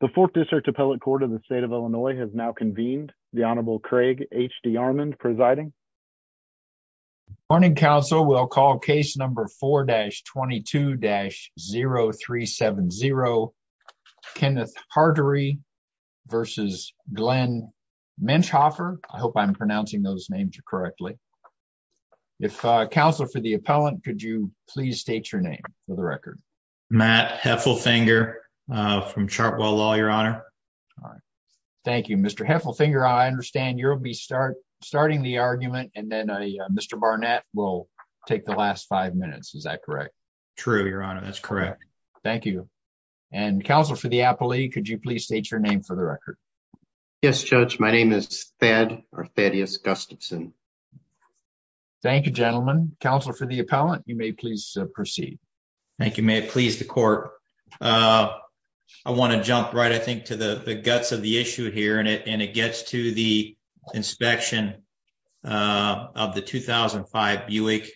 the fourth district appellate court of the state of illinois has now convened the honorable craig hd armand presiding morning council we'll call case number 4-22-0370 kenneth hartory versus glenn menchhofer i hope i'm pronouncing those names correctly if uh counselor for the appellant could you please state your name for the record matt heffelfinger from chartwell law your honor all right thank you mr heffelfinger i understand you'll be start starting the argument and then a mr barnett will take the last five minutes is that correct true your honor that's correct thank you and counsel for the appellee could you please state your name for the record yes judge my name is fed or thaddeus gustafson thank you gentlemen counselor for the appellant you may please proceed thank you may it please the court uh i want to jump right i think to the the guts of the issue here and it and it gets to the inspection uh of the 2005 buick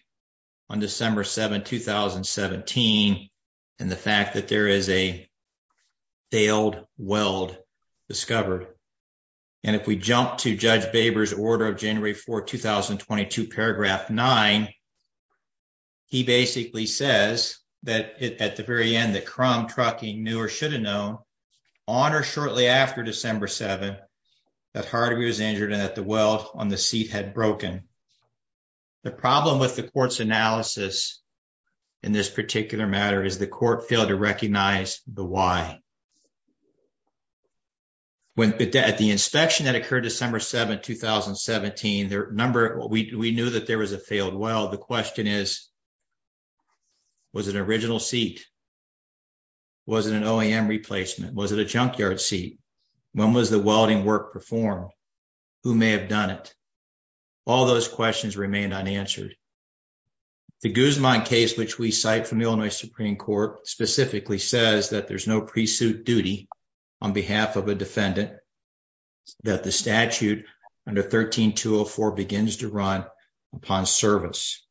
on december 7 2017 and the fact that there is a failed weld discovered and if we jump to judge baber's order of january 4 2022 paragraph 9 he basically says that at the very end that crumb trucking knew or should have known on or shortly after december 7 that hardy was injured and that the weld on the seat had broken the problem with the court's analysis in this particular matter is the court failed to recognize the why when at the inspection that occurred december 7 2017 their number we knew that there was a failed well the question is was an original seat was it an oam replacement was it a junkyard seat when was the welding work performed who may have done it all those questions remained unanswered the guzman case which we cite from illinois supreme court specifically says that there's no pre-suit duty on behalf of a defendant that the statute under 13 204 begins to run upon service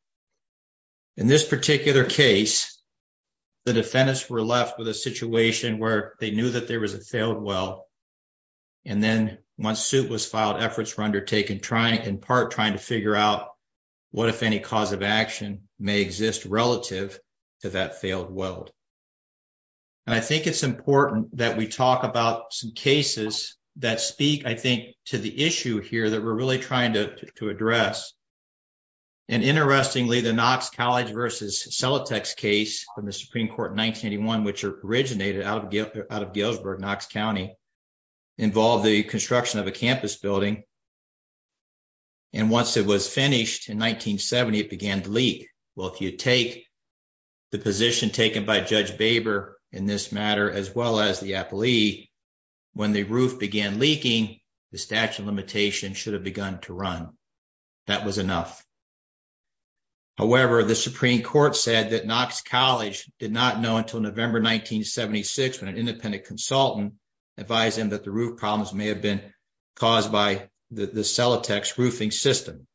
in this particular case the defendants were left with a situation where they knew that there was a failed well and then once suit was filed efforts were undertaken trying in part trying to figure out what if any cause of action may exist relative to that failed weld and i think it's important that we talk about some cases that speak i think to the issue here that we're really trying to to address and interestingly the knox college versus celitex case from the supreme court in 1981 which originated out of galesburg knox county involved the construction of a campus building and once it was finished in 1970 it began to leak well if you take the position taken by judge baber in this matter as well as the appellee when the roof began leaking the statute of limitation should have begun to run that was enough however the supreme court said that knox college did not know until november 1976 when an independent consultant advised him that the roof problems may have been caused by the celitex roofing system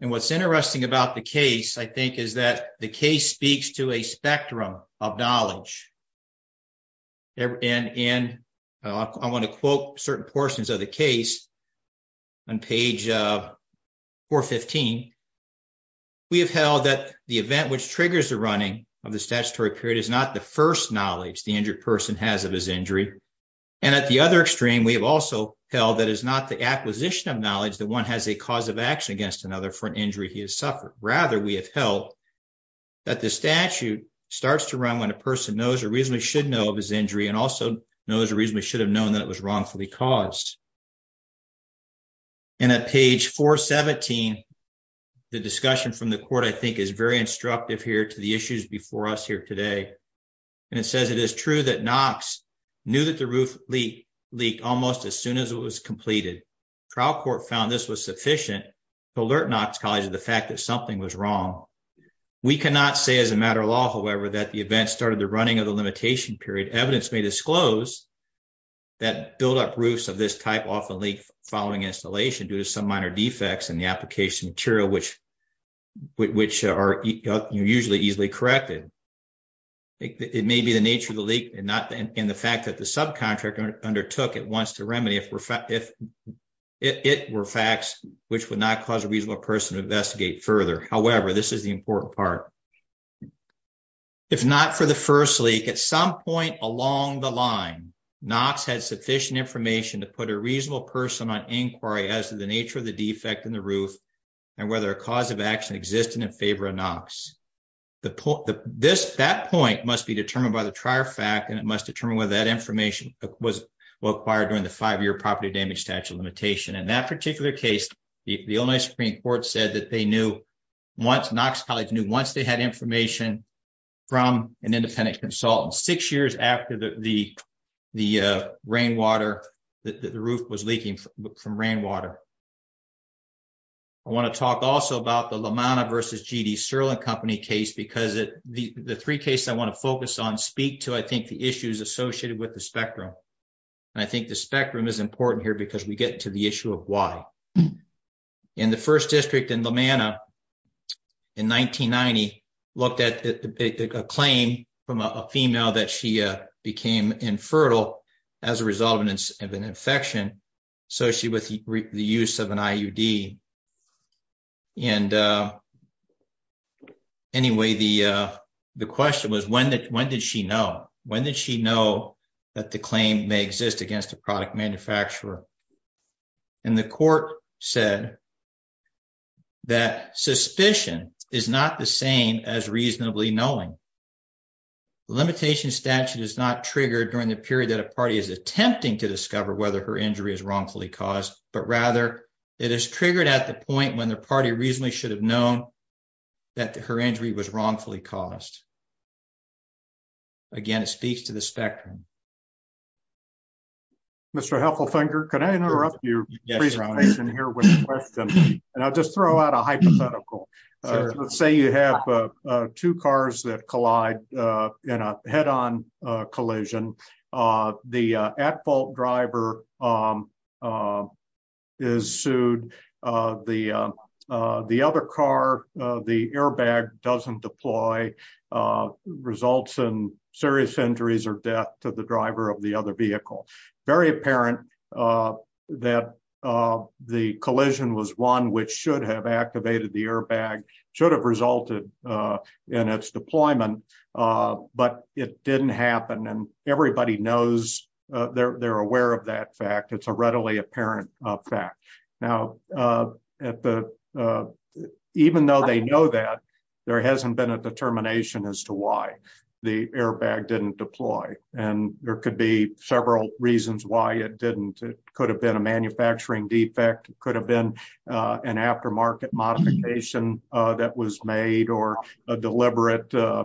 and what's interesting about the case i think is that the case speaks to a spectrum of knowledge and in i want to quote certain portions of the case on page 415 we have held that the event which triggers the running of the statutory period is not the first knowledge the injured person has of his injury and at the other extreme we have also held that is not the acquisition of knowledge that one has a cause of action against another for an injury he has to run when a person knows a reason we should know of his injury and also knows a reason we should have known that it was wrongfully caused and at page 417 the discussion from the court i think is very instructive here to the issues before us here today and it says it is true that knox knew that the roof leak leaked almost as soon as it was completed trial court found this was sufficient to alert knox college of the fact that something was wrong we cannot say as a matter of however that the event started the running of the limitation period evidence may disclose that build-up roofs of this type often leak following installation due to some minor defects in the application material which which are usually easily corrected it may be the nature of the leak and not in the fact that the subcontractor undertook at once to remedy if it were facts which would not cause a reasonable person to investigate further however this is the if not for the first leak at some point along the line knox had sufficient information to put a reasonable person on inquiry as to the nature of the defect in the roof and whether a cause of action existing in favor of knox the point that this that point must be determined by the trier fact and it must determine whether that information was acquired during the five-year property damage statute limitation in that particular case the illinois supreme court said that they knew once knox college knew once they had information from an independent consultant six years after the the rainwater that the roof was leaking from rainwater i want to talk also about the lamana versus gd sirlin company case because it the the three cases i want to focus on speak to i think the issues associated with the spectrum and i think the spectrum is important here because we get to issue of why in the first district in lamana in 1990 looked at a claim from a female that she became infertile as a result of an infection associated with the use of an iud and anyway the uh the question was when that when did she know when did she know that the claim may exist against a product manufacturer and the court said that suspicion is not the same as reasonably knowing the limitation statute is not triggered during the period that a party is attempting to discover whether her injury is wrongfully caused but rather it is triggered at the point when the party reasonably should have known that her injury was wrongfully caused again it speaks to the spectrum mr heffelfinger can i interrupt your presentation here with a question and i'll just throw out a hypothetical let's say you have uh two cars that collide uh in a head-on uh collision uh the uh at doesn't deploy uh results in serious injuries or death to the driver of the other vehicle very apparent uh that uh the collision was one which should have activated the airbag should have resulted uh in its deployment uh but it didn't happen and everybody knows they're aware of that fact it's a readily apparent fact now uh at the uh even though they know that there hasn't been a determination as to why the airbag didn't deploy and there could be several reasons why it didn't it could have been a manufacturing defect could have been an aftermarket modification uh that was made or a deliberate uh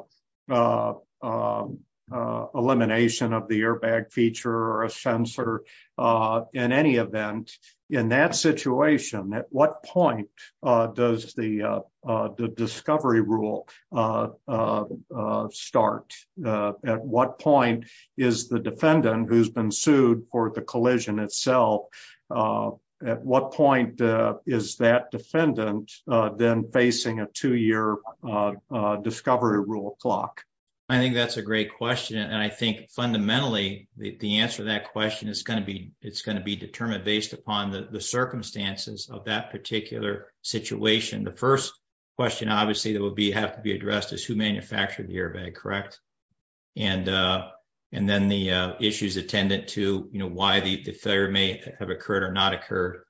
uh uh elimination of the airbag feature or a sensor uh in any event in that situation at what point uh does the uh the discovery rule uh uh uh start uh at what point is the defendant who's been sued for the collision itself uh at what point uh is that defendant uh then facing a two-year uh uh discovery rule clock i think that's a great question and i think fundamentally the answer to that question is going to be it's going to be determined based upon the the circumstances of that particular situation the first question obviously that would be have to be addressed is who manufactured the airbag correct and uh and then the uh issues attendant to you know why the the failure may have occurred or not occurred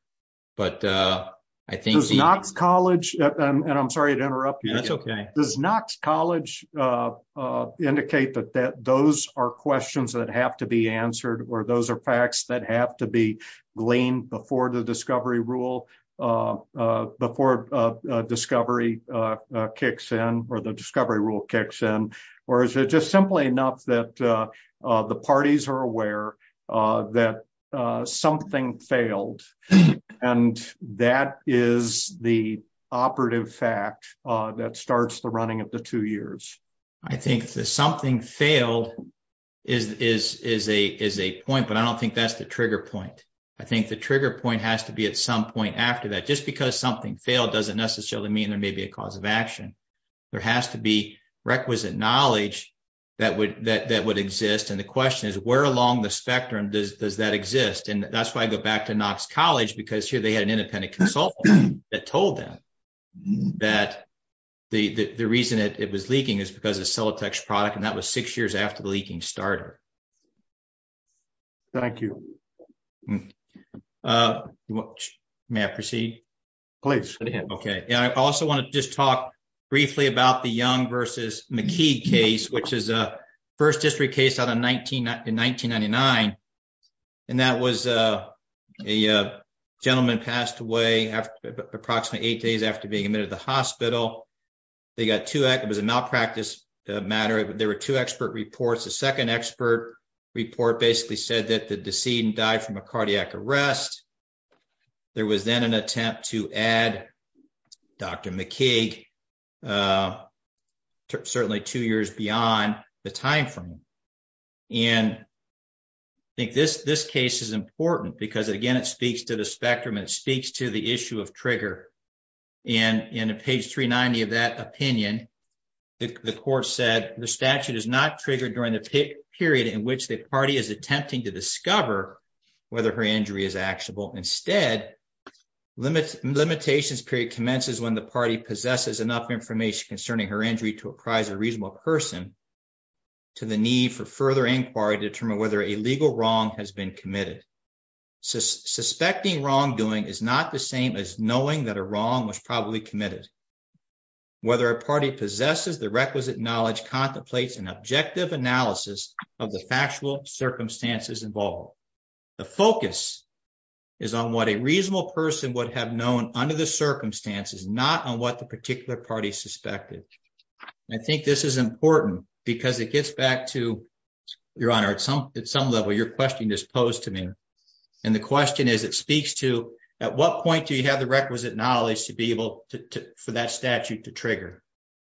but uh i think knox college and i'm sorry to interrupt that's okay does knox college uh uh indicate that that those are questions that have to be answered or those are facts that have to be gleaned before the discovery rule uh uh before uh discovery uh kicks in or the discovery rule kicks in or is it just simply enough that uh the parties are aware uh that uh something failed and that is the operative fact uh that starts the running of the two years i think that something failed is is is a is a point but i don't think that's the trigger point i think the trigger point has to be at some point after that just because something failed doesn't necessarily mean there may be a cause of action there has to be requisite knowledge that would that that would exist and the question is where along the spectrum does does that exist and that's why i go back to knox college because here they had an independent consultant that told them that the the reason that it was leaking is because of cellotex product and that was six years after the leaking starter thank you uh may i proceed please okay i also want to just talk briefly about the young versus mckee case which is a first district case out of 19 in 1999 and that was uh a uh gentleman passed away after approximately eight days after being admitted to the hospital they got to act it was a malpractice matter there were two expert reports the second expert report basically said that the decedent died from a cardiac arrest there was then an attempt to add dr mckee uh certainly two years beyond the time frame and i think this this case is important because again it speaks to the spectrum it speaks to the issue of trigger and in page 390 of that opinion the court said the statute is not triggered during the period in which the party is attempting to discover whether her injury is actionable instead limits limitations period commences when the party possesses enough information concerning her injury to apprise a reasonable person to the need for further inquiry to determine whether a legal wrong has been committed suspecting wrongdoing is not the same as knowing that a wrong was probably committed whether a party possesses the requisite knowledge contemplates an objective analysis of the factual circumstances involved the focus is on what a reasonable person would have known under the circumstances not on what the particular party suspected i think this is important because it gets back to your honor at some at some level your question is posed to me and the question is it speaks to at what point do you have the requisite knowledge to be able to for that statute to trigger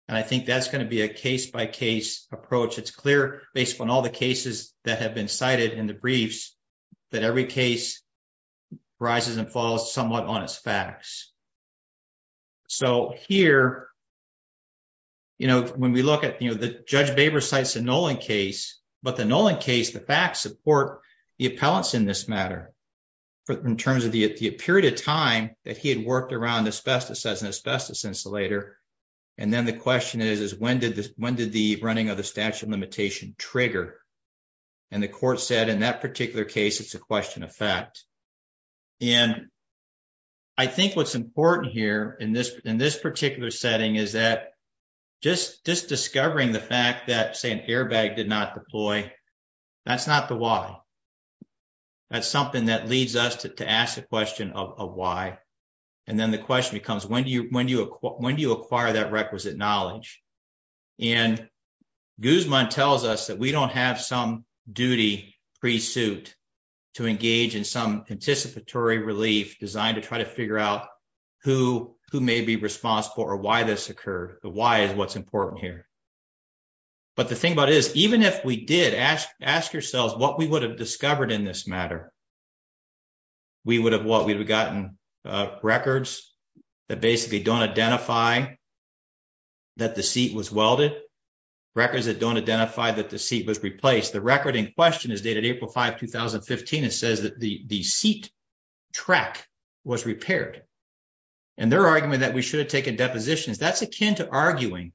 and i think that's going to be a case-by-case approach it's clear based on all the cases that have been cited in the briefs that every case rises and falls somewhat on its facts so here you know when we look at you know the judge baber cites the nolan case but the nolan case the facts support the appellants in this matter in terms of the period of time that he had worked around asbestos as an asbestos insulator and then the question is is when did this when did the running of the statute of limitation trigger and the court said in that particular case it's a question of fact and i think what's important here in this in this particular setting is that just just discovering the fact that say an airbag did not deploy that's not the why that's something that leads us to to ask the question of why and then the question becomes when do you when do you when do you acquire that requisite knowledge and guzman tells us that we don't have some duty pre-suit to engage in some anticipatory relief designed to try to figure out who who may be responsible or why this occurred the why is what's important here but the thing about is even if we did ask ask yourselves what we would have records that basically don't identify that the seat was welded records that don't identify that the seat was replaced the record in question is dated april 5 2015 and says that the the seat track was repaired and their argument that we should have taken depositions that's akin to arguing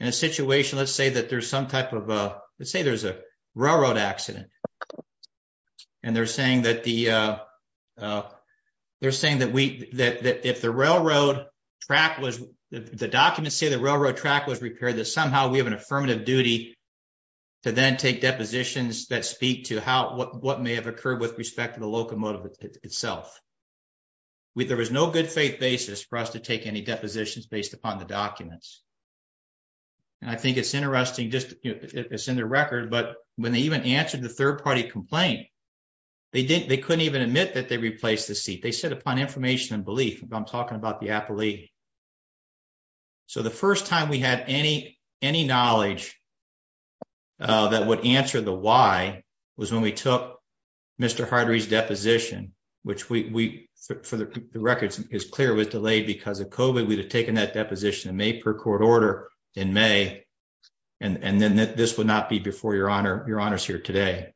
in a situation let's say that there's some type of uh let's say there's a railroad accident and they're saying that the uh uh they're saying that we that if the railroad track was the documents say the railroad track was repaired that somehow we have an affirmative duty to then take depositions that speak to how what what may have occurred with respect to the locomotive itself we there was no good faith basis for us to take any depositions based upon the documents and i think it's interesting just it's in their record but when they even answered the third party complaint they didn't they couldn't even admit that they replaced the seat they said upon information and belief i'm talking about the appellee so the first time we had any any knowledge that would answer the why was when we took mr hardy's deposition which we for the records is clear was delayed because of kovid we'd have taken that deposition in may per court order in may and and then this would not be before your honor your honors here today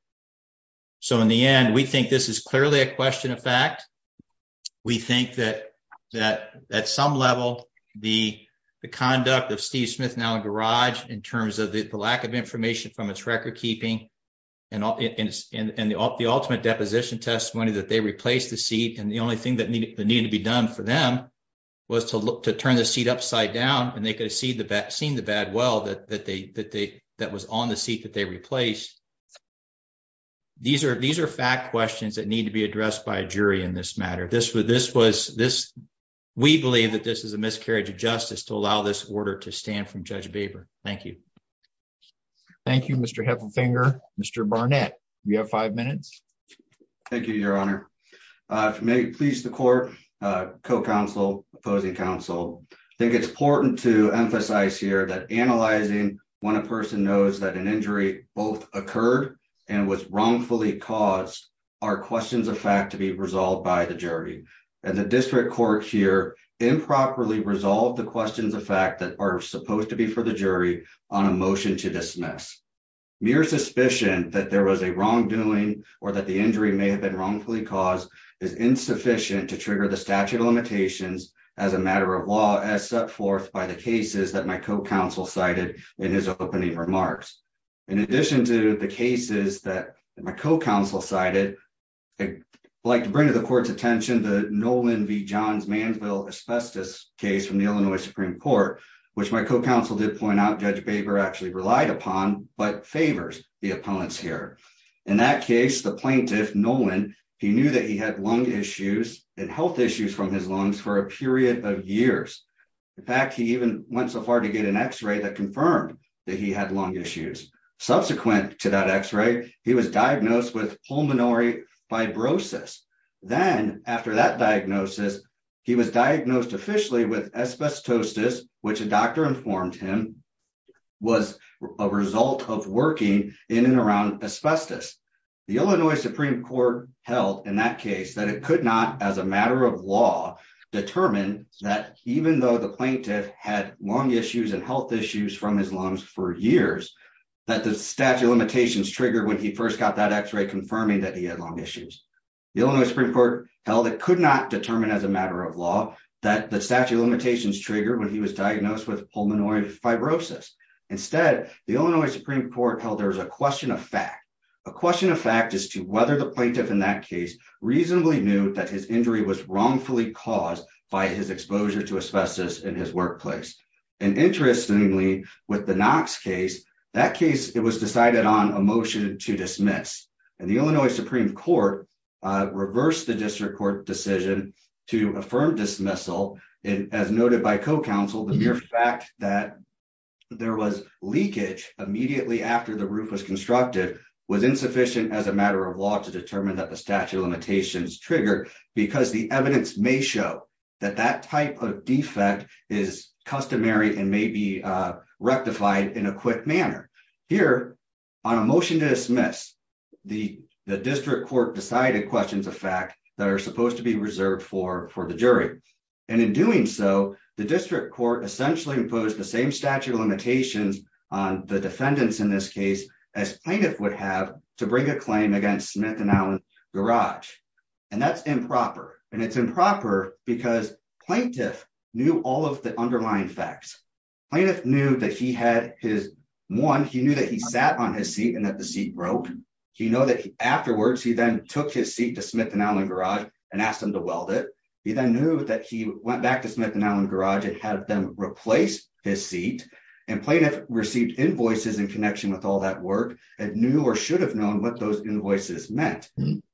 so in the end we think this is clearly a question of fact we think that that at some level the conduct of steve smith now in garage in terms of the lack of information from its record keeping and all it is and and the ultimate deposition testimony that they replaced the seat and the done for them was to look to turn the seat upside down and they could see the vaccine the bad well that that they that they that was on the seat that they replaced these are these are fact questions that need to be addressed by a jury in this matter this was this was this we believe that this is a miscarriage of justice to allow this order to stand from judge baber thank you thank you mr heffelfinger mr barnett we have five minutes thank you your honor uh if you may please the court uh co-counsel opposing counsel i think it's important to emphasize here that analyzing when a person knows that an injury both occurred and was wrongfully caused are questions of fact to be resolved by the jury and the district court here improperly resolved the questions of fact that are supposed to be for the jury on a motion to dismiss mere suspicion that there was a wrongdoing or that the injury may have been wrongfully caused is insufficient to trigger the statute of limitations as a matter of law as set forth by the cases that my co-counsel cited in his opening remarks in addition to the cases that my co-counsel cited i'd like to bring to the court's attention the nolan v johns manville asbestos case from the illinois supreme court which my co-counsel did point out judge baber actually relied upon but favors the opponents here in that case the plaintiff nolan he knew that he had lung issues and health issues from his lungs for a period of years in fact he even went so far to get an x-ray that confirmed that he had lung issues subsequent to that x-ray he was diagnosed with pulmonary fibrosis then after that diagnosis he was diagnosed officially with asbestosis which a doctor informed him was a result of working in and around asbestos the illinois supreme court held in that case that it could not as a matter of law determine that even though the plaintiff had lung issues and health issues from his lungs for years that the statute of limitations triggered when he first got that x-ray confirming that he had lung issues the illinois supreme court held it could not determine as a matter of law that the statute of limitations triggered when he was diagnosed with pulmonary fibrosis instead the illinois supreme court held there was a question of fact a question of fact as to whether the plaintiff in that case reasonably knew that his injury was wrongfully caused by his exposure to asbestos in his workplace and interestingly with the knox case that case it was decided on a motion to dismiss and the illinois supreme court uh reversed the district court decision to affirm dismissal and as noted by co-counsel the mere fact that there was leakage immediately after the roof was constructed was insufficient as a matter of law to determine that the statute of limitations triggered because the evidence may show that that type of defect is customary and may be uh rectified in a quick manner here on a motion to dismiss the the district court decided questions that are supposed to be reserved for for the jury and in doing so the district court essentially imposed the same statute of limitations on the defendants in this case as plaintiff would have to bring a claim against smith and allen garage and that's improper and it's improper because plaintiff knew all of the underlying facts plaintiff knew that he had his one he knew that he sat on his seat and that the seat broke he know that afterwards he then took his seat to smith and allen garage and asked him to weld it he then knew that he went back to smith and allen garage and had them replace his seat and plaintiff received invoices in connection with all that work and knew or should have known what those invoices meant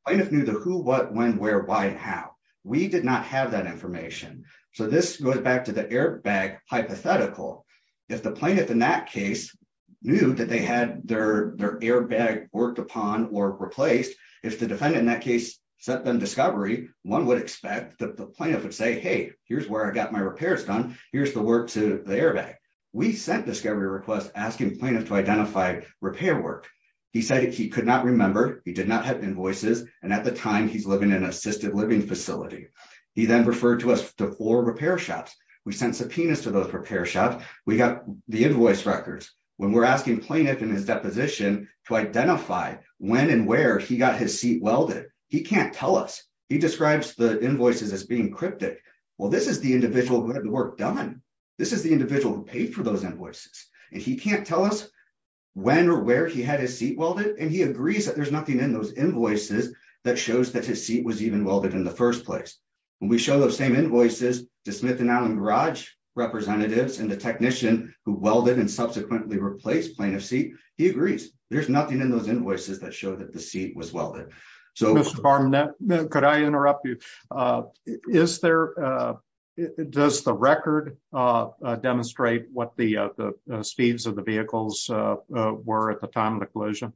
plaintiff knew the who what when where why how we did not have that information so this goes back to the airbag hypothetical if the plaintiff in that case knew that they had their their airbag worked upon or replaced if the defendant in that set them discovery one would expect that the plaintiff would say hey here's where i got my repairs done here's the work to the airbag we sent discovery requests asking plaintiff to identify repair work he said he could not remember he did not have invoices and at the time he's living in an assisted living facility he then referred to us to four repair shops we sent subpoenas to those repair shops we got the invoice records when we're asking plaintiff in his deposition to identify when and where he got his seat welded he can't tell us he describes the invoices as being cryptic well this is the individual who hadn't worked on this is the individual who paid for those invoices and he can't tell us when or where he had his seat welded and he agrees that there's nothing in those invoices that shows that his seat was even welded in the first place when we show those same invoices to smith and allen garage representatives and the technician who welded and subsequently replaced plaintiff seat he agrees there's nothing in those invoices that show that the seat was welded so mr barman could i interrupt you uh is there uh does the record uh demonstrate what the uh the speeds of the vehicles uh were at the time of the collision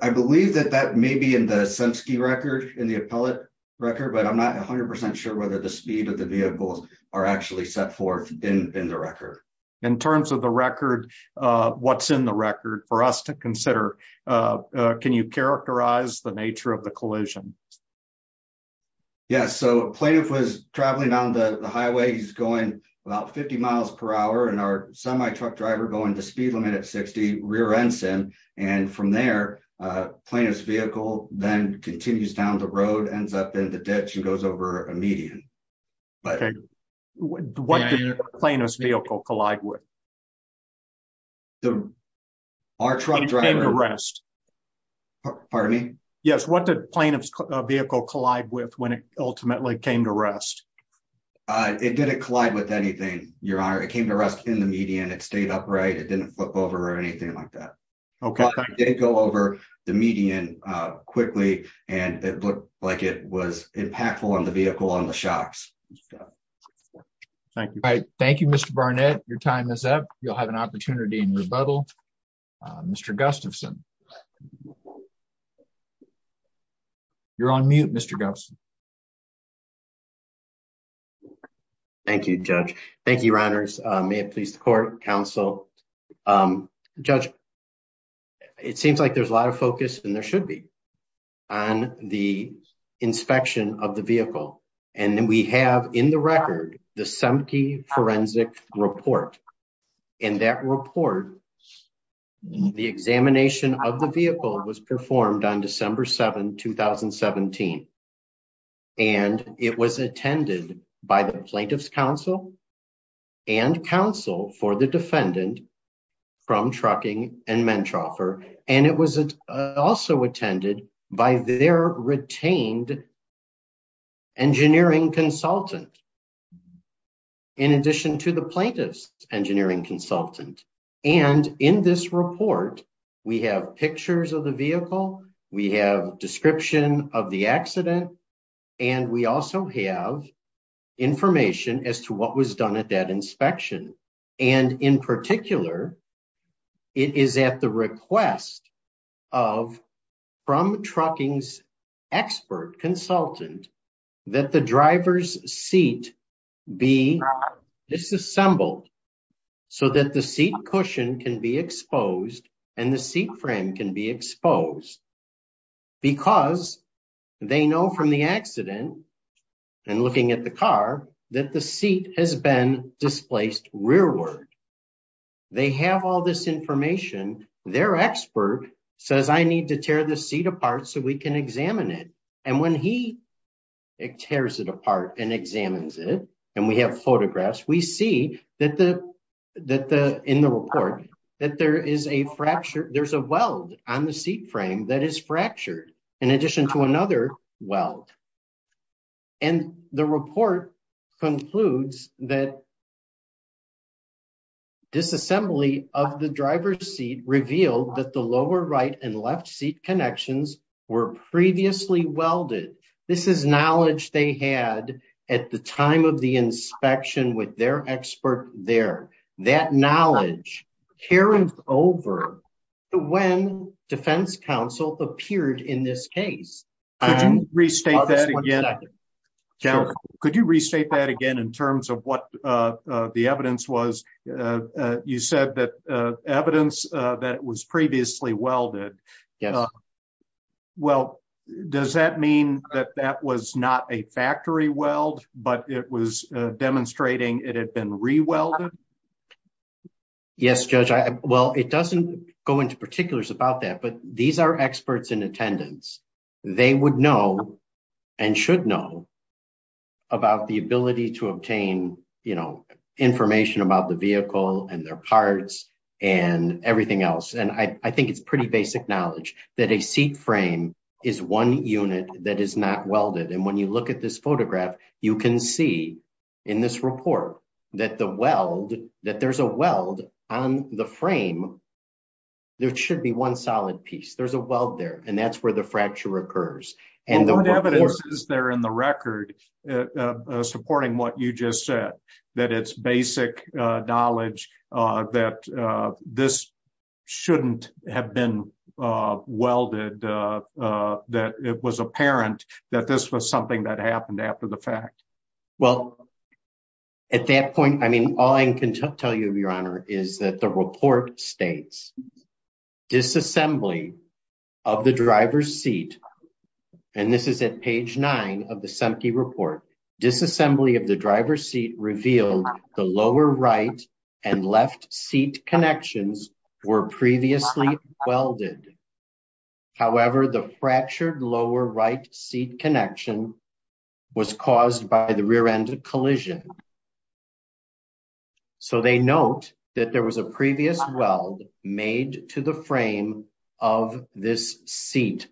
i believe that that may be in the sense key record in the appellate record but i'm not 100 sure whether the speed of the vehicles are actually set forth in in the record in terms of the record uh what's in the record for us to consider uh can you characterize the nature of the collision yes so plaintiff was traveling down the highway he's going about 50 miles per hour and our semi-truck driver going to speed limit at 60 rear end sim and from there uh plaintiff's vehicle then continues down the road ends up in the ditch and goes over a median but what did plaintiff's vehicle collide with the our truck driver rest pardon me yes what did plaintiff's vehicle collide with when it ultimately came to rest uh it didn't collide with anything your honor it came to rest in the median it stayed upright it didn't flip over or anything like that okay didn't go over the median uh quickly and it looked like it was impactful on the vehicle on the thank you mr barnett your time is up you'll have an opportunity in rebuttal uh mr gustafson you're on mute mr gustafson thank you judge thank you your honors uh may it please the court counsel um judge it seems like there's a lot of focus and there should be on the inspection of the vehicle and then we have in the record the semke forensic report in that report the examination of the vehicle was performed on december 7 2017 and it was attended by the plaintiff's counsel and counsel for the defendant from trucking and mentroffer and it was also attended by their retained engineering consultant in addition to the plaintiff's engineering consultant and in this report we have pictures of the vehicle we have description of the accident and we also have information as to what was done at that inspection and in particular it is at the request of from trucking's expert consultant that the driver's seat be disassembled so that the seat cushion can be exposed and the seat frame can be exposed because they know from the accident and looking at the car that the seat has been displaced rearward they have all this information their expert says i need to tear the seat apart so we can examine it and when he tears it apart and examines it and we have photographs we see that the that the in the that there is a fracture there's a weld on the seat frame that is fractured in addition to another weld and the report concludes that disassembly of the driver's seat revealed that the lower right and left seat connections were previously welded this is knowledge they had at the time of the inspection with their expert there that knowledge carried over when defense counsel appeared in this case could you restate that again in terms of what the evidence was you said that evidence that it was previously welded yes well does that mean that that was not a factory weld but it was demonstrating it had been re-welded yes judge i well it doesn't go into particulars about that but these are experts in attendance they would know and should know about the ability to obtain you know information about the vehicle and their parts and everything else and i i think it's pretty basic knowledge that a seat frame is one unit that is not welded and when you look at this in this report that the weld that there's a weld on the frame there should be one solid piece there's a weld there and that's where the fracture occurs and the evidence is there in the record supporting what you just said that it's basic uh knowledge uh that uh this shouldn't have been uh welded uh uh that it was apparent that this was something that happened after the well at that point i mean all i can tell you your honor is that the report states disassembly of the driver's seat and this is at page nine of the sempte report disassembly of the driver's seat revealed the lower right and left seat connections were previously welded however the fractured lower right seat connection was caused by the rear end collision so they note that there was a previous weld made to the frame of this seat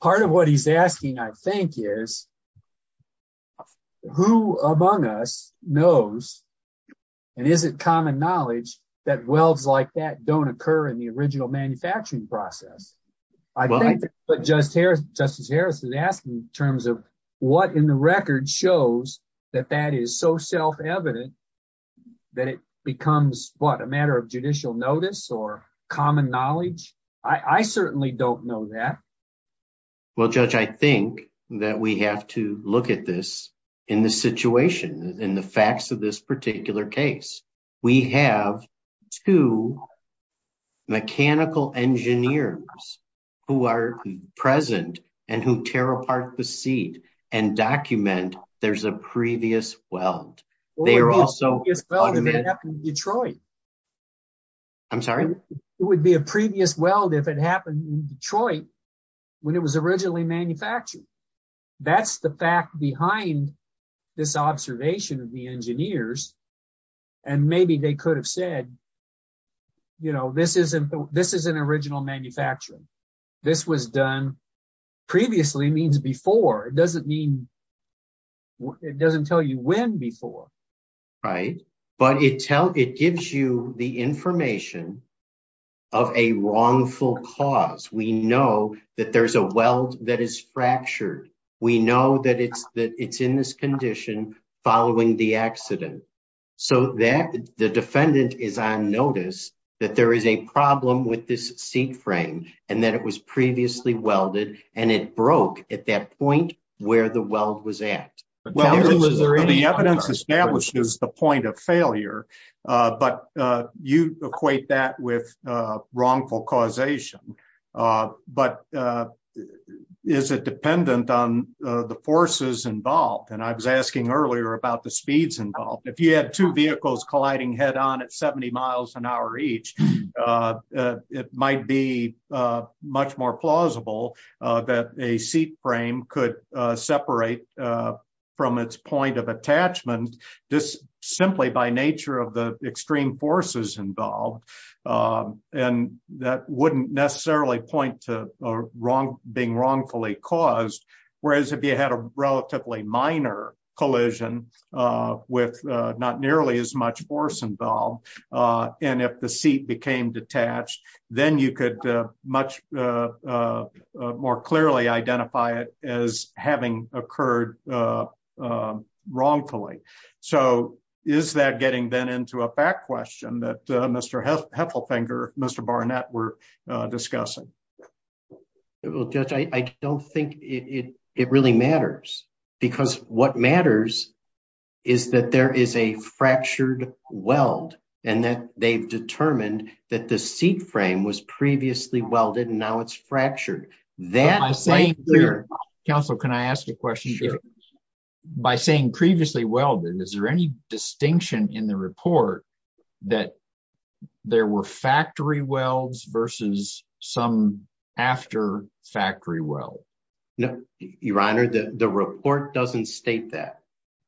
part of what he's asking i think is who among us knows and is it common knowledge that welds like that don't occur in the original manufacturing process i think but just here justice harris is asking in terms of what in the record shows that that is so self-evident that it becomes what a matter of judicial notice or common knowledge i i certainly don't know that well judge i think that we have to look at this in the situation in the facts of this particular case we have two mechanical engineers who are present and who tear apart the seat and document there's a previous weld they are also in detroit i'm sorry it would be a previous weld if it happened in detroit when it was originally manufactured that's the fact behind this observation of the engineers and maybe they could have said you know this isn't this is an original manufacturing this was done previously means before it doesn't mean it doesn't tell you when before right but it tells it gives you the information of a wrongful cause we know that there's a weld that is fractured we know that it's that it's in this condition following the accident so that the defendant is on notice that there is a problem with this seat frame and that it was previously welded and it broke at that point where the weld was at well is there any evidence establishes the point of failure but you equate that with wrongful causation but is it dependent on the forces involved and i was asking earlier about the speeds involved if you had two vehicles colliding head on at 70 miles an hour each it might be much more plausible that a seat frame could separate from its point of attachment just simply by nature of the extreme forces involved and that wouldn't necessarily point to a wrong being wrongfully caused whereas if you had a relatively minor collision with not nearly as much force involved and if the seat became detached then you could much more clearly identify it as having occurred wrongfully so is that getting then into a back question that mr heffelfinger mr barnett were discussing well judge i i don't think it it really matters because what matters is that there is a fractured weld and that they've was previously welded and now it's fractured that i'm saying council can i ask a question by saying previously welded is there any distinction in the report that there were factory welds versus some after factory well no your honor the the report doesn't state that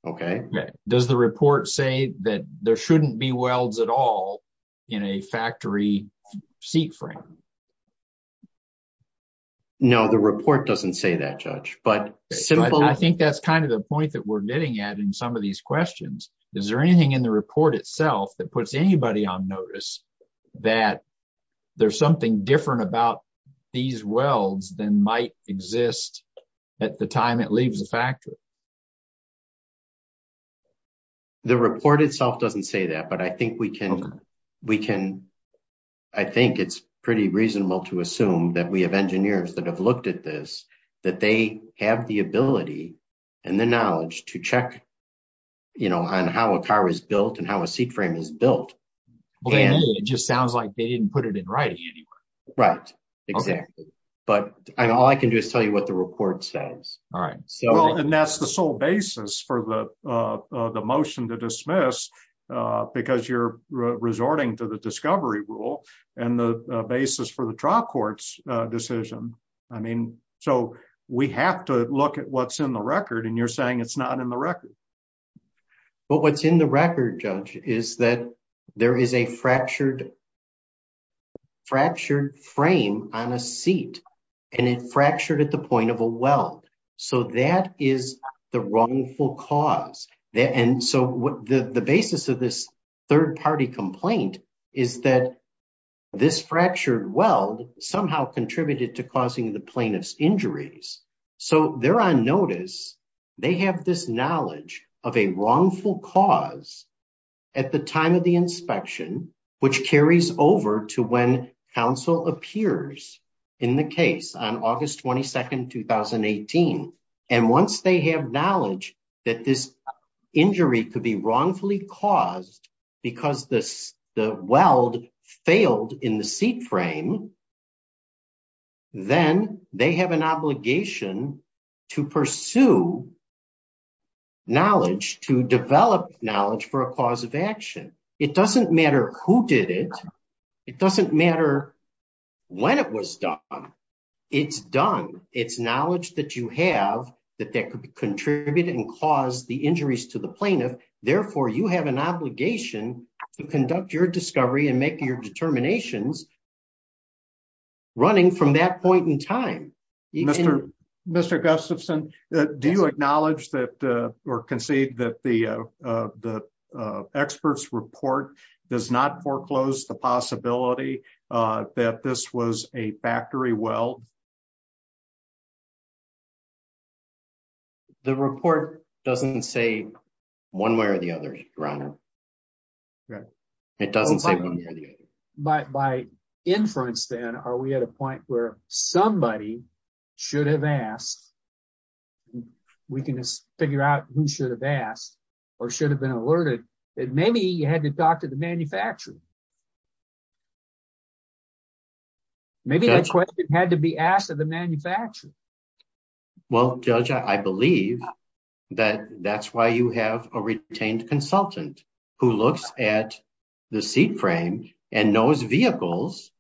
okay does the report say that there shouldn't be welds at all in a factory seat frame no the report doesn't say that judge but i think that's kind of the point that we're getting at in some of these questions is there anything in the report itself that puts anybody on notice that there's something different about these welds than might exist at the time it leaves a factory the report itself doesn't say that but i think we can we can i think it's pretty reasonable to assume that we have engineers that have looked at this that they have the ability and the knowledge to check you know on how a car is built and how a seat frame is built it just sounds like they didn't put it in writing anyway right exactly but all i can do is tell you the report says all right so and that's the sole basis for the uh the motion to dismiss uh because you're resorting to the discovery rule and the basis for the trial court's uh decision i mean so we have to look at what's in the record and you're saying it's not in the record but what's in the record judge is that there is a fractured fractured frame on a seat and it fractured at the point of a weld so that is the wrongful cause that and so what the the basis of this third party complaint is that this fractured weld somehow contributed to causing the plaintiff's injuries so they're on notice they have this knowledge of a inspection which carries over to when counsel appears in the case on august 22nd 2018 and once they have knowledge that this injury could be wrongfully caused because this the weld failed in the seat frame then they have an obligation to pursue knowledge to develop knowledge for a cause of action it doesn't matter who did it it doesn't matter when it was done it's done it's knowledge that you have that that could contribute and cause the injuries to the plaintiff therefore you have an obligation to conduct your discovery and make your determinations running from that point in time mr mr gustafson do you acknowledge that uh or concede that the uh uh the uh experts report does not foreclose the possibility uh that this was a factory well the report doesn't say one way or the other your honor right it doesn't say by by inference then are we at a point where somebody should have asked we can just figure out who should have asked or should have been alerted that maybe you had to talk to the manufacturer maybe that question had to be asked of the manufacturer well judge i believe that that's you have a retained consultant who looks at the seat frame and knows vehicles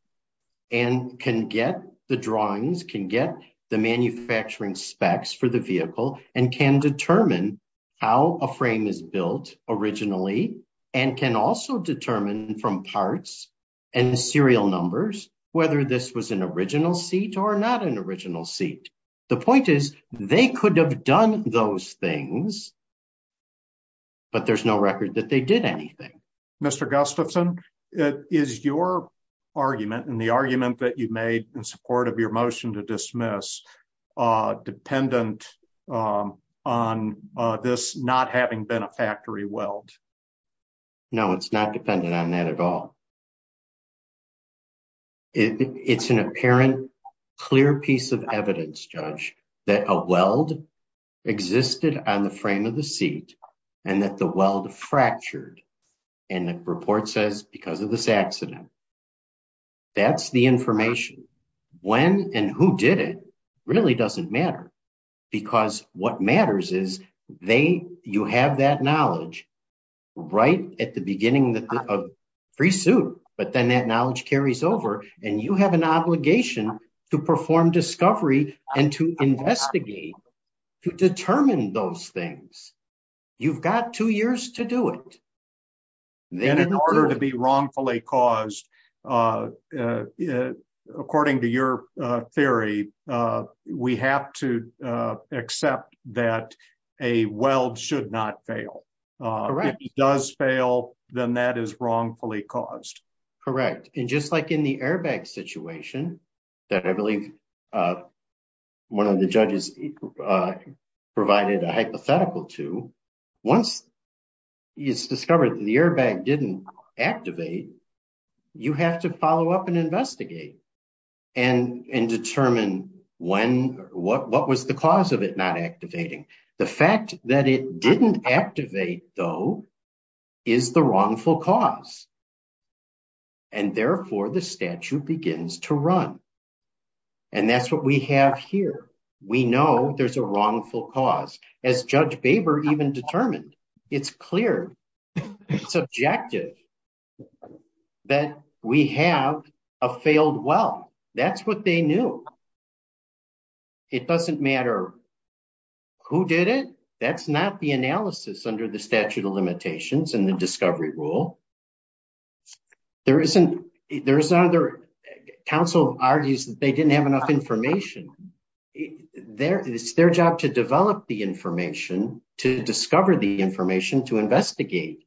and can get the drawings can get the manufacturing specs for the vehicle and can determine how a frame is built originally and can also determine from parts and serial numbers whether this was an original seat or not an original seat the point is they could have done those things but there's no record that they did anything mr gustafson it is your argument and the argument that you made in support of your motion to dismiss uh dependent um on uh this not having been a factory weld no it's not dependent on that at all it's an apparent clear piece of evidence judge that a weld existed on the frame of the seat and that the weld fractured and the report says because of this accident that's the information when and who did it really doesn't matter because what matters is they you have that knowledge right at the beginning of free suit but then that knowledge carries over and you have an obligation to perform discovery and to investigate to determine those things you've got two years to do it and in order to be wrongfully caused uh according to your uh theory uh we have to uh accept that a weld should not fail uh if it does fail then that is wrongfully caused correct and just like in the airbag situation that i believe uh one of the judges uh provided a hypothetical to once it's discovered the airbag didn't activate you have to follow up and investigate and and determine when what what was the cause of it not activating the fact that it didn't activate though is the wrongful cause and therefore the statute begins to run and that's what we have here we know there's a wrongful cause as judge baber even determined it's clear subjective that we have a failed well that's what they knew it doesn't matter who did it that's not the analysis under the statute of there isn't there's another council argues that they didn't have enough information there it's their job to develop the information to discover the information to investigate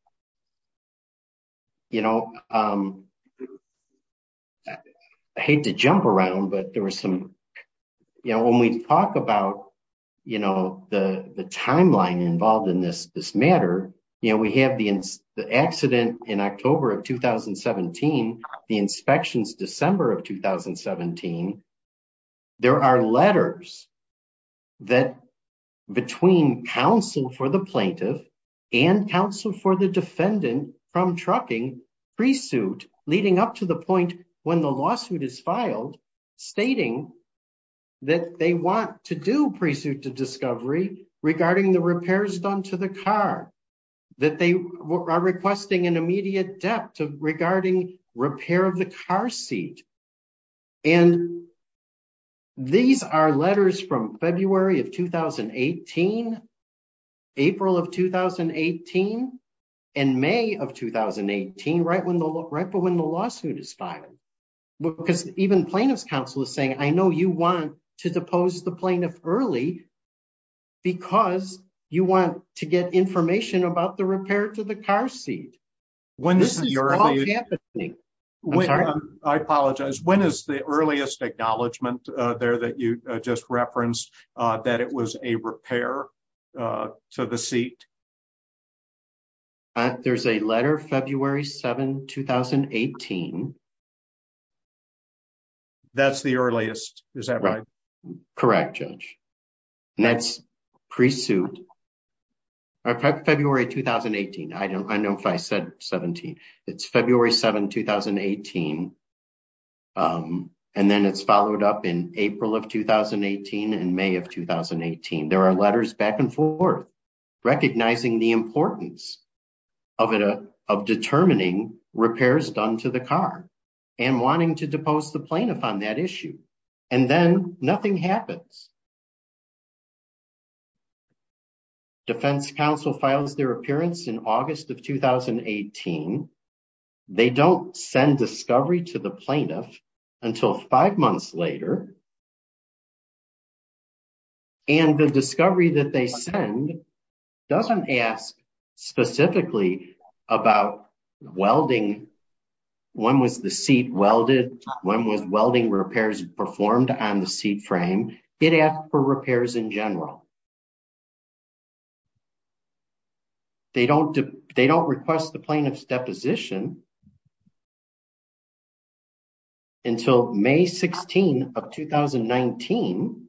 you know um i hate to jump around but there was some you know when we talk about you know the the timeline involved in this this matter you know we have the incident in october of 2017 the inspections december of 2017 there are letters that between counsel for the plaintiff and counsel for the defendant from trucking pre-suit leading up to the point when the regarding the repairs done to the car that they are requesting an immediate depth regarding repair of the car seat and these are letters from february of 2018 april of 2018 and may of 2018 right when the right but when the lawsuit is filed because even plaintiff's counsel is saying i know you want to depose the plaintiff early because you want to get information about the repair to the car seat when this is happening i'm sorry i apologize when is the earliest acknowledgement uh there that you just referenced uh that it was a repair uh to the seat there's a letter february 7 2018 that's the earliest is that right correct judge and that's pre-suit february 2018 i don't i know if i said 17 it's february 7 2018 um and then it's followed up in april of 2018 and may of 2018 there are letters back and forth recognizing the importance of it of determining repairs done to the car and wanting to depose the plaintiff on that issue and then nothing happens defense counsel files their appearance in august of 2018 they don't send discovery to the plaintiff until five months later and the discovery that they send doesn't ask specifically about welding when was the seat welded when was welding repairs performed on the seat frame it asked for repairs in general they don't they don't request the plaintiff's deposition until may 16 of 2019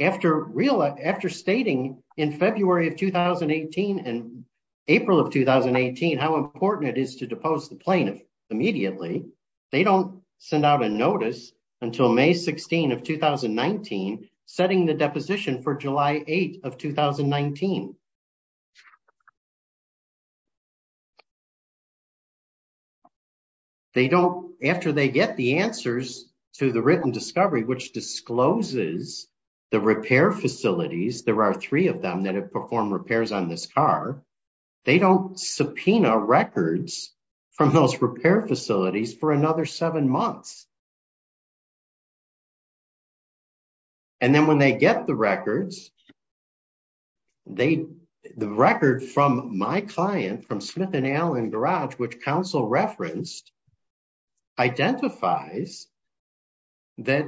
after real after stating in february of 2018 and april of 2018 how important it is to depose the plaintiff immediately they don't send out a notice until may 16 of 2019 setting the deposition for july 8 of 2019 they don't after they get the answers to the written discovery which discloses the repair facilities there are three of them that have performed repairs on this car they don't subpoena records from those repair facilities for another seven months and then when they get the records they the record from my client from smith and allen garage which counsel referenced identifies that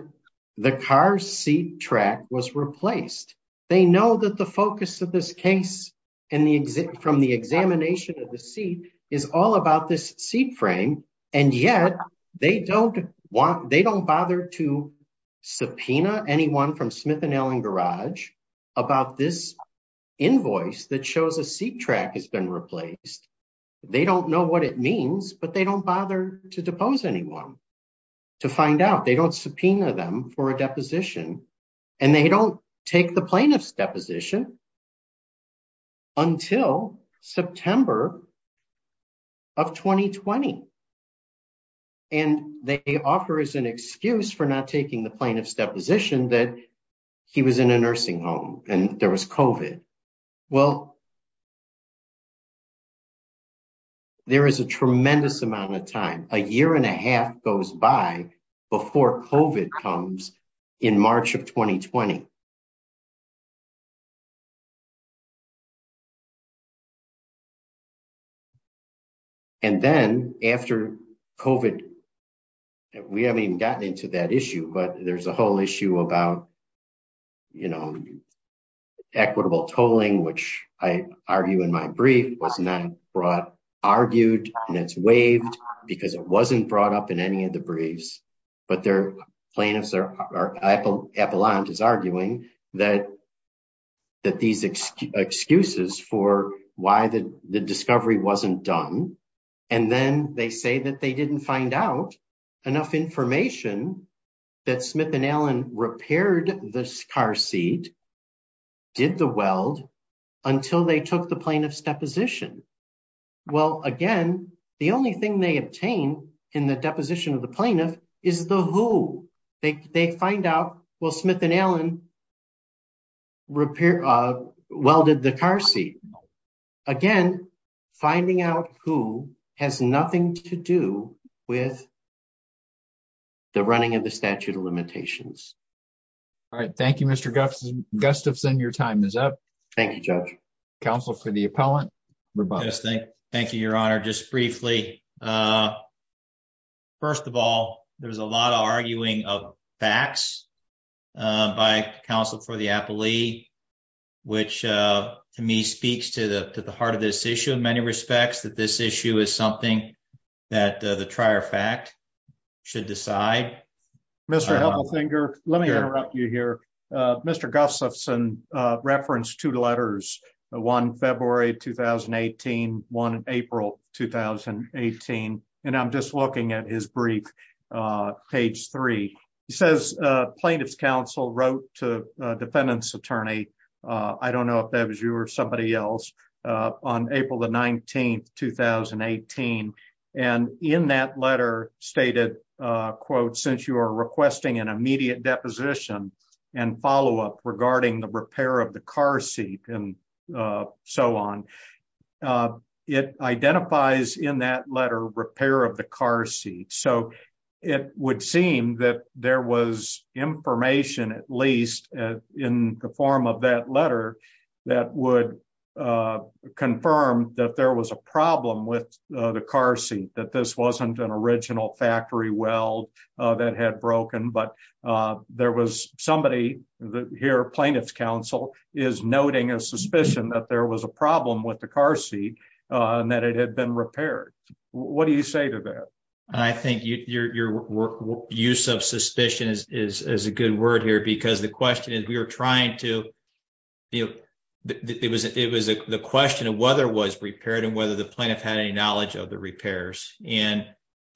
the car seat track was replaced they know that the focus of this case in the exit from the examination of the seat is all about this seat frame and yet they don't want they don't bother to subpoena anyone from smith and allen garage about this invoice that shows a seat track has been replaced they don't know what it means but they don't bother to depose anyone to find out they don't subpoena them for a deposition and they don't take the plaintiff's excuse for not taking the plaintiff's deposition that he was in a nursing home and there was covid well there is a tremendous amount of time a year and a half goes by before covid comes in march of 2020 and then after covid we haven't even gotten into that issue but there's a whole issue about you know equitable tolling which i argue in my brief was not brought argued and it's waived because it wasn't brought up in any of the briefs but their plaintiffs are epaulant is arguing that that these excuses for why the the discovery wasn't done and then they say that they didn't find out enough information that smith and allen repaired this car seat did the weld until they took the plaintiff's deposition well again the only thing they obtain in the deposition of the plaintiff is the who they find out well smith and allen repair uh welded the car seat again finding out who has nothing to do with the running of the statute of limitations all right thank you mr gustafson your time is up thank you judge council for the appellant thank you your honor just briefly uh first of all there's a lot of arguing of facts by counsel for the appellee which uh to me speaks to the to the heart of this issue in many respects that this issue is something that the trier fact should decide mr helpethinger let me interrupt you here uh mr gustafson uh referenced two letters one february 2018 one april 2018 and i'm just looking at his brief uh page three he says uh plaintiff's council wrote to a defendant's attorney uh i don't know if that was you or somebody else uh on april the 19th 2018 and in that letter stated uh quote since you are requesting an immediate deposition and follow-up regarding the repair of the car seat and uh so on uh it identifies in that letter repair of the car seat so it would seem that there was information at least in the form of that that would uh confirm that there was a problem with uh the car seat that this wasn't an original factory weld uh that had broken but uh there was somebody here plaintiff's council is noting a suspicion that there was a problem with the car seat and that it had been repaired what do you say to that i think your your use of suspicion is is is a good word here because the question is we to you it was it was a the question of whether it was repaired and whether the plaintiff had any knowledge of the repairs and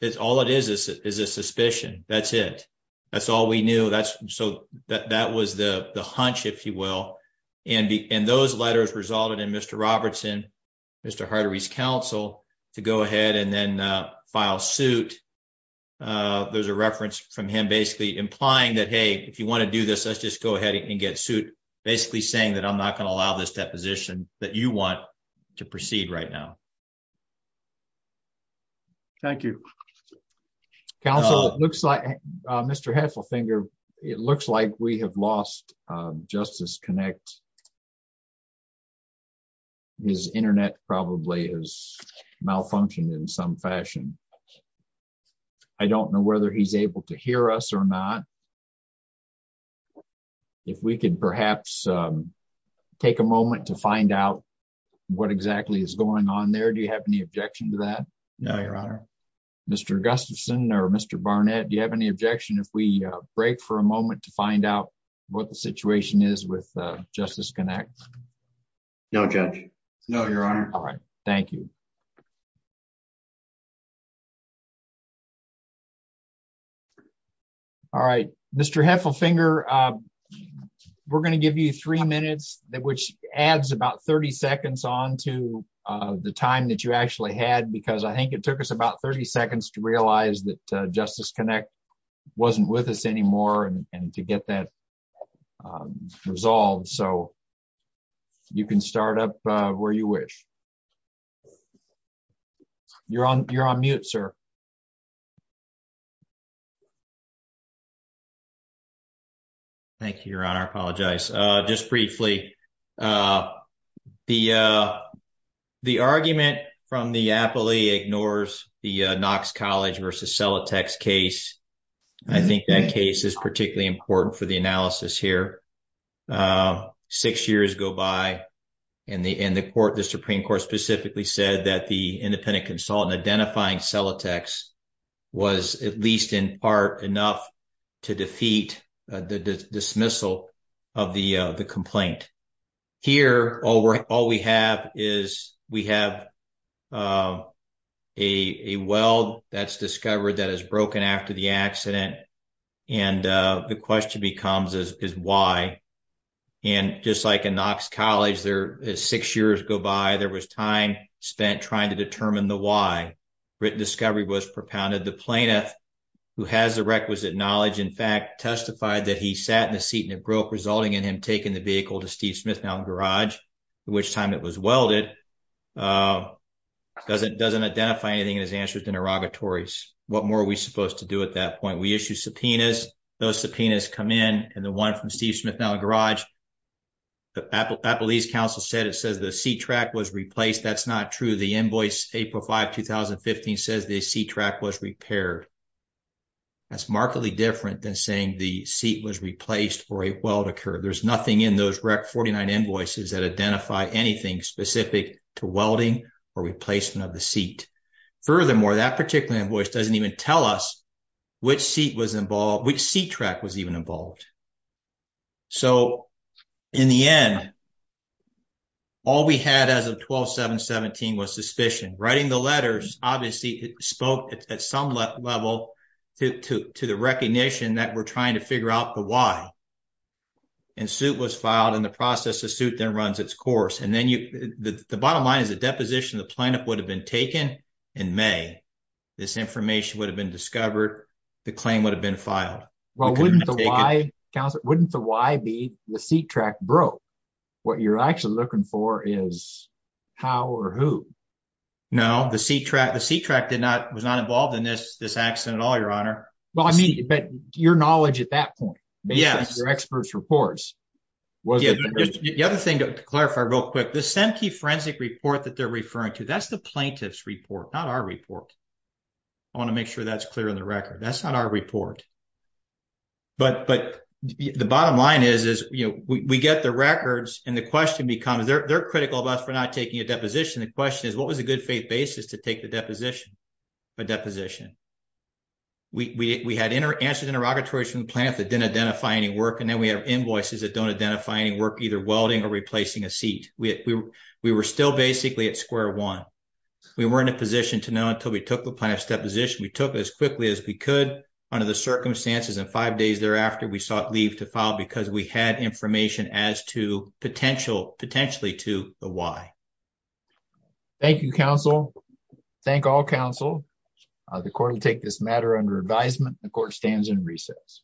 it's all it is is a suspicion that's it that's all we knew that's so that that was the the hunch if you will and the and those letters resulted in mr robertson mr hardery's council to go ahead and then uh file suit uh there's a reference from him basically implying that hey if you want to do this let's just go ahead and get suit basically saying that i'm not going to allow this deposition that you want to proceed right now thank you council it looks like mr hasselfinger it looks like we have lost justice connect his internet probably has malfunctioned in some fashion i don't know whether he's able to hear us or not if we could perhaps take a moment to find out what exactly is going on there do you have any objection to that no your honor mr augustin or mr barnett do you have any objection if we break for a moment to find out what the situation is with justice connect no judge no your honor all right thank you all right mr heffelfinger uh we're going to give you three minutes which adds about 30 seconds on to uh the time that you actually had because i think it took us about 30 seconds to realize that justice connect wasn't with us anymore and to get that resolved so you can start up where you wish okay you're on you're on mute sir thank you your honor apologize uh just briefly uh the uh the argument from the appellee ignores the uh knox college versus sellotex case i think that case is particularly important for the that the independent consultant identifying sellotex was at least in part enough to defeat the dismissal of the uh the complaint here all we're all we have is we have uh a well that's discovered that is broken after the accident and uh the question becomes is is why and just like in knox college there is six years go by there was time spent trying to determine the why written discovery was propounded the plaintiff who has the requisite knowledge in fact testified that he sat in the seat and it broke resulting in him taking the vehicle to steve smith mountain garage at which time it was welded uh doesn't doesn't identify anything in his answers to interrogatories what more are we supposed to do at that point we issue subpoenas those subpoenas come in and the one from steve smith now garage the appellee's council said it says the seat track was replaced that's not true the invoice april 5 2015 says the seat track was repaired that's markedly different than saying the seat was replaced or a weld occurred there's nothing in those rec 49 invoices that identify anything specific to welding or replacement of the seat furthermore that particular invoice doesn't even tell us which seat was involved which seat track was even involved so in the end all we had as of 12 7 17 was suspicion writing the letters obviously spoke at some level to to the recognition that we're trying to figure out the why and suit was filed in the process the suit then runs its course and then you the the bottom line is the deposition the plaintiff would have been taken in may this information would have been discovered the claim would have been filed well wouldn't the why council wouldn't the why be the seat track broke what you're actually looking for is how or who no the seat track the seat track did not was not involved in this this accident at all your honor well i mean but your knowledge at that point yes your experts reports was the other thing to clarify real quick this empty forensic report that they're referring to that's the plaintiff's report not our report i want to make sure that's clear in the record that's our report but but the bottom line is is you know we get the records and the question becomes they're they're critical of us for not taking a deposition the question is what was a good faith basis to take the deposition a deposition we we had inter answered interrogatories from the plant that didn't identify any work and then we have invoices that don't identify any work either welding or replacing a seat we we were still basically at square one we weren't in position to know until we took the plaintiff's deposition we took as quickly as we could under the circumstances and five days thereafter we sought leave to file because we had information as to potential potentially to the why thank you counsel thank all counsel the court will take this matter under advisement the court stands in recess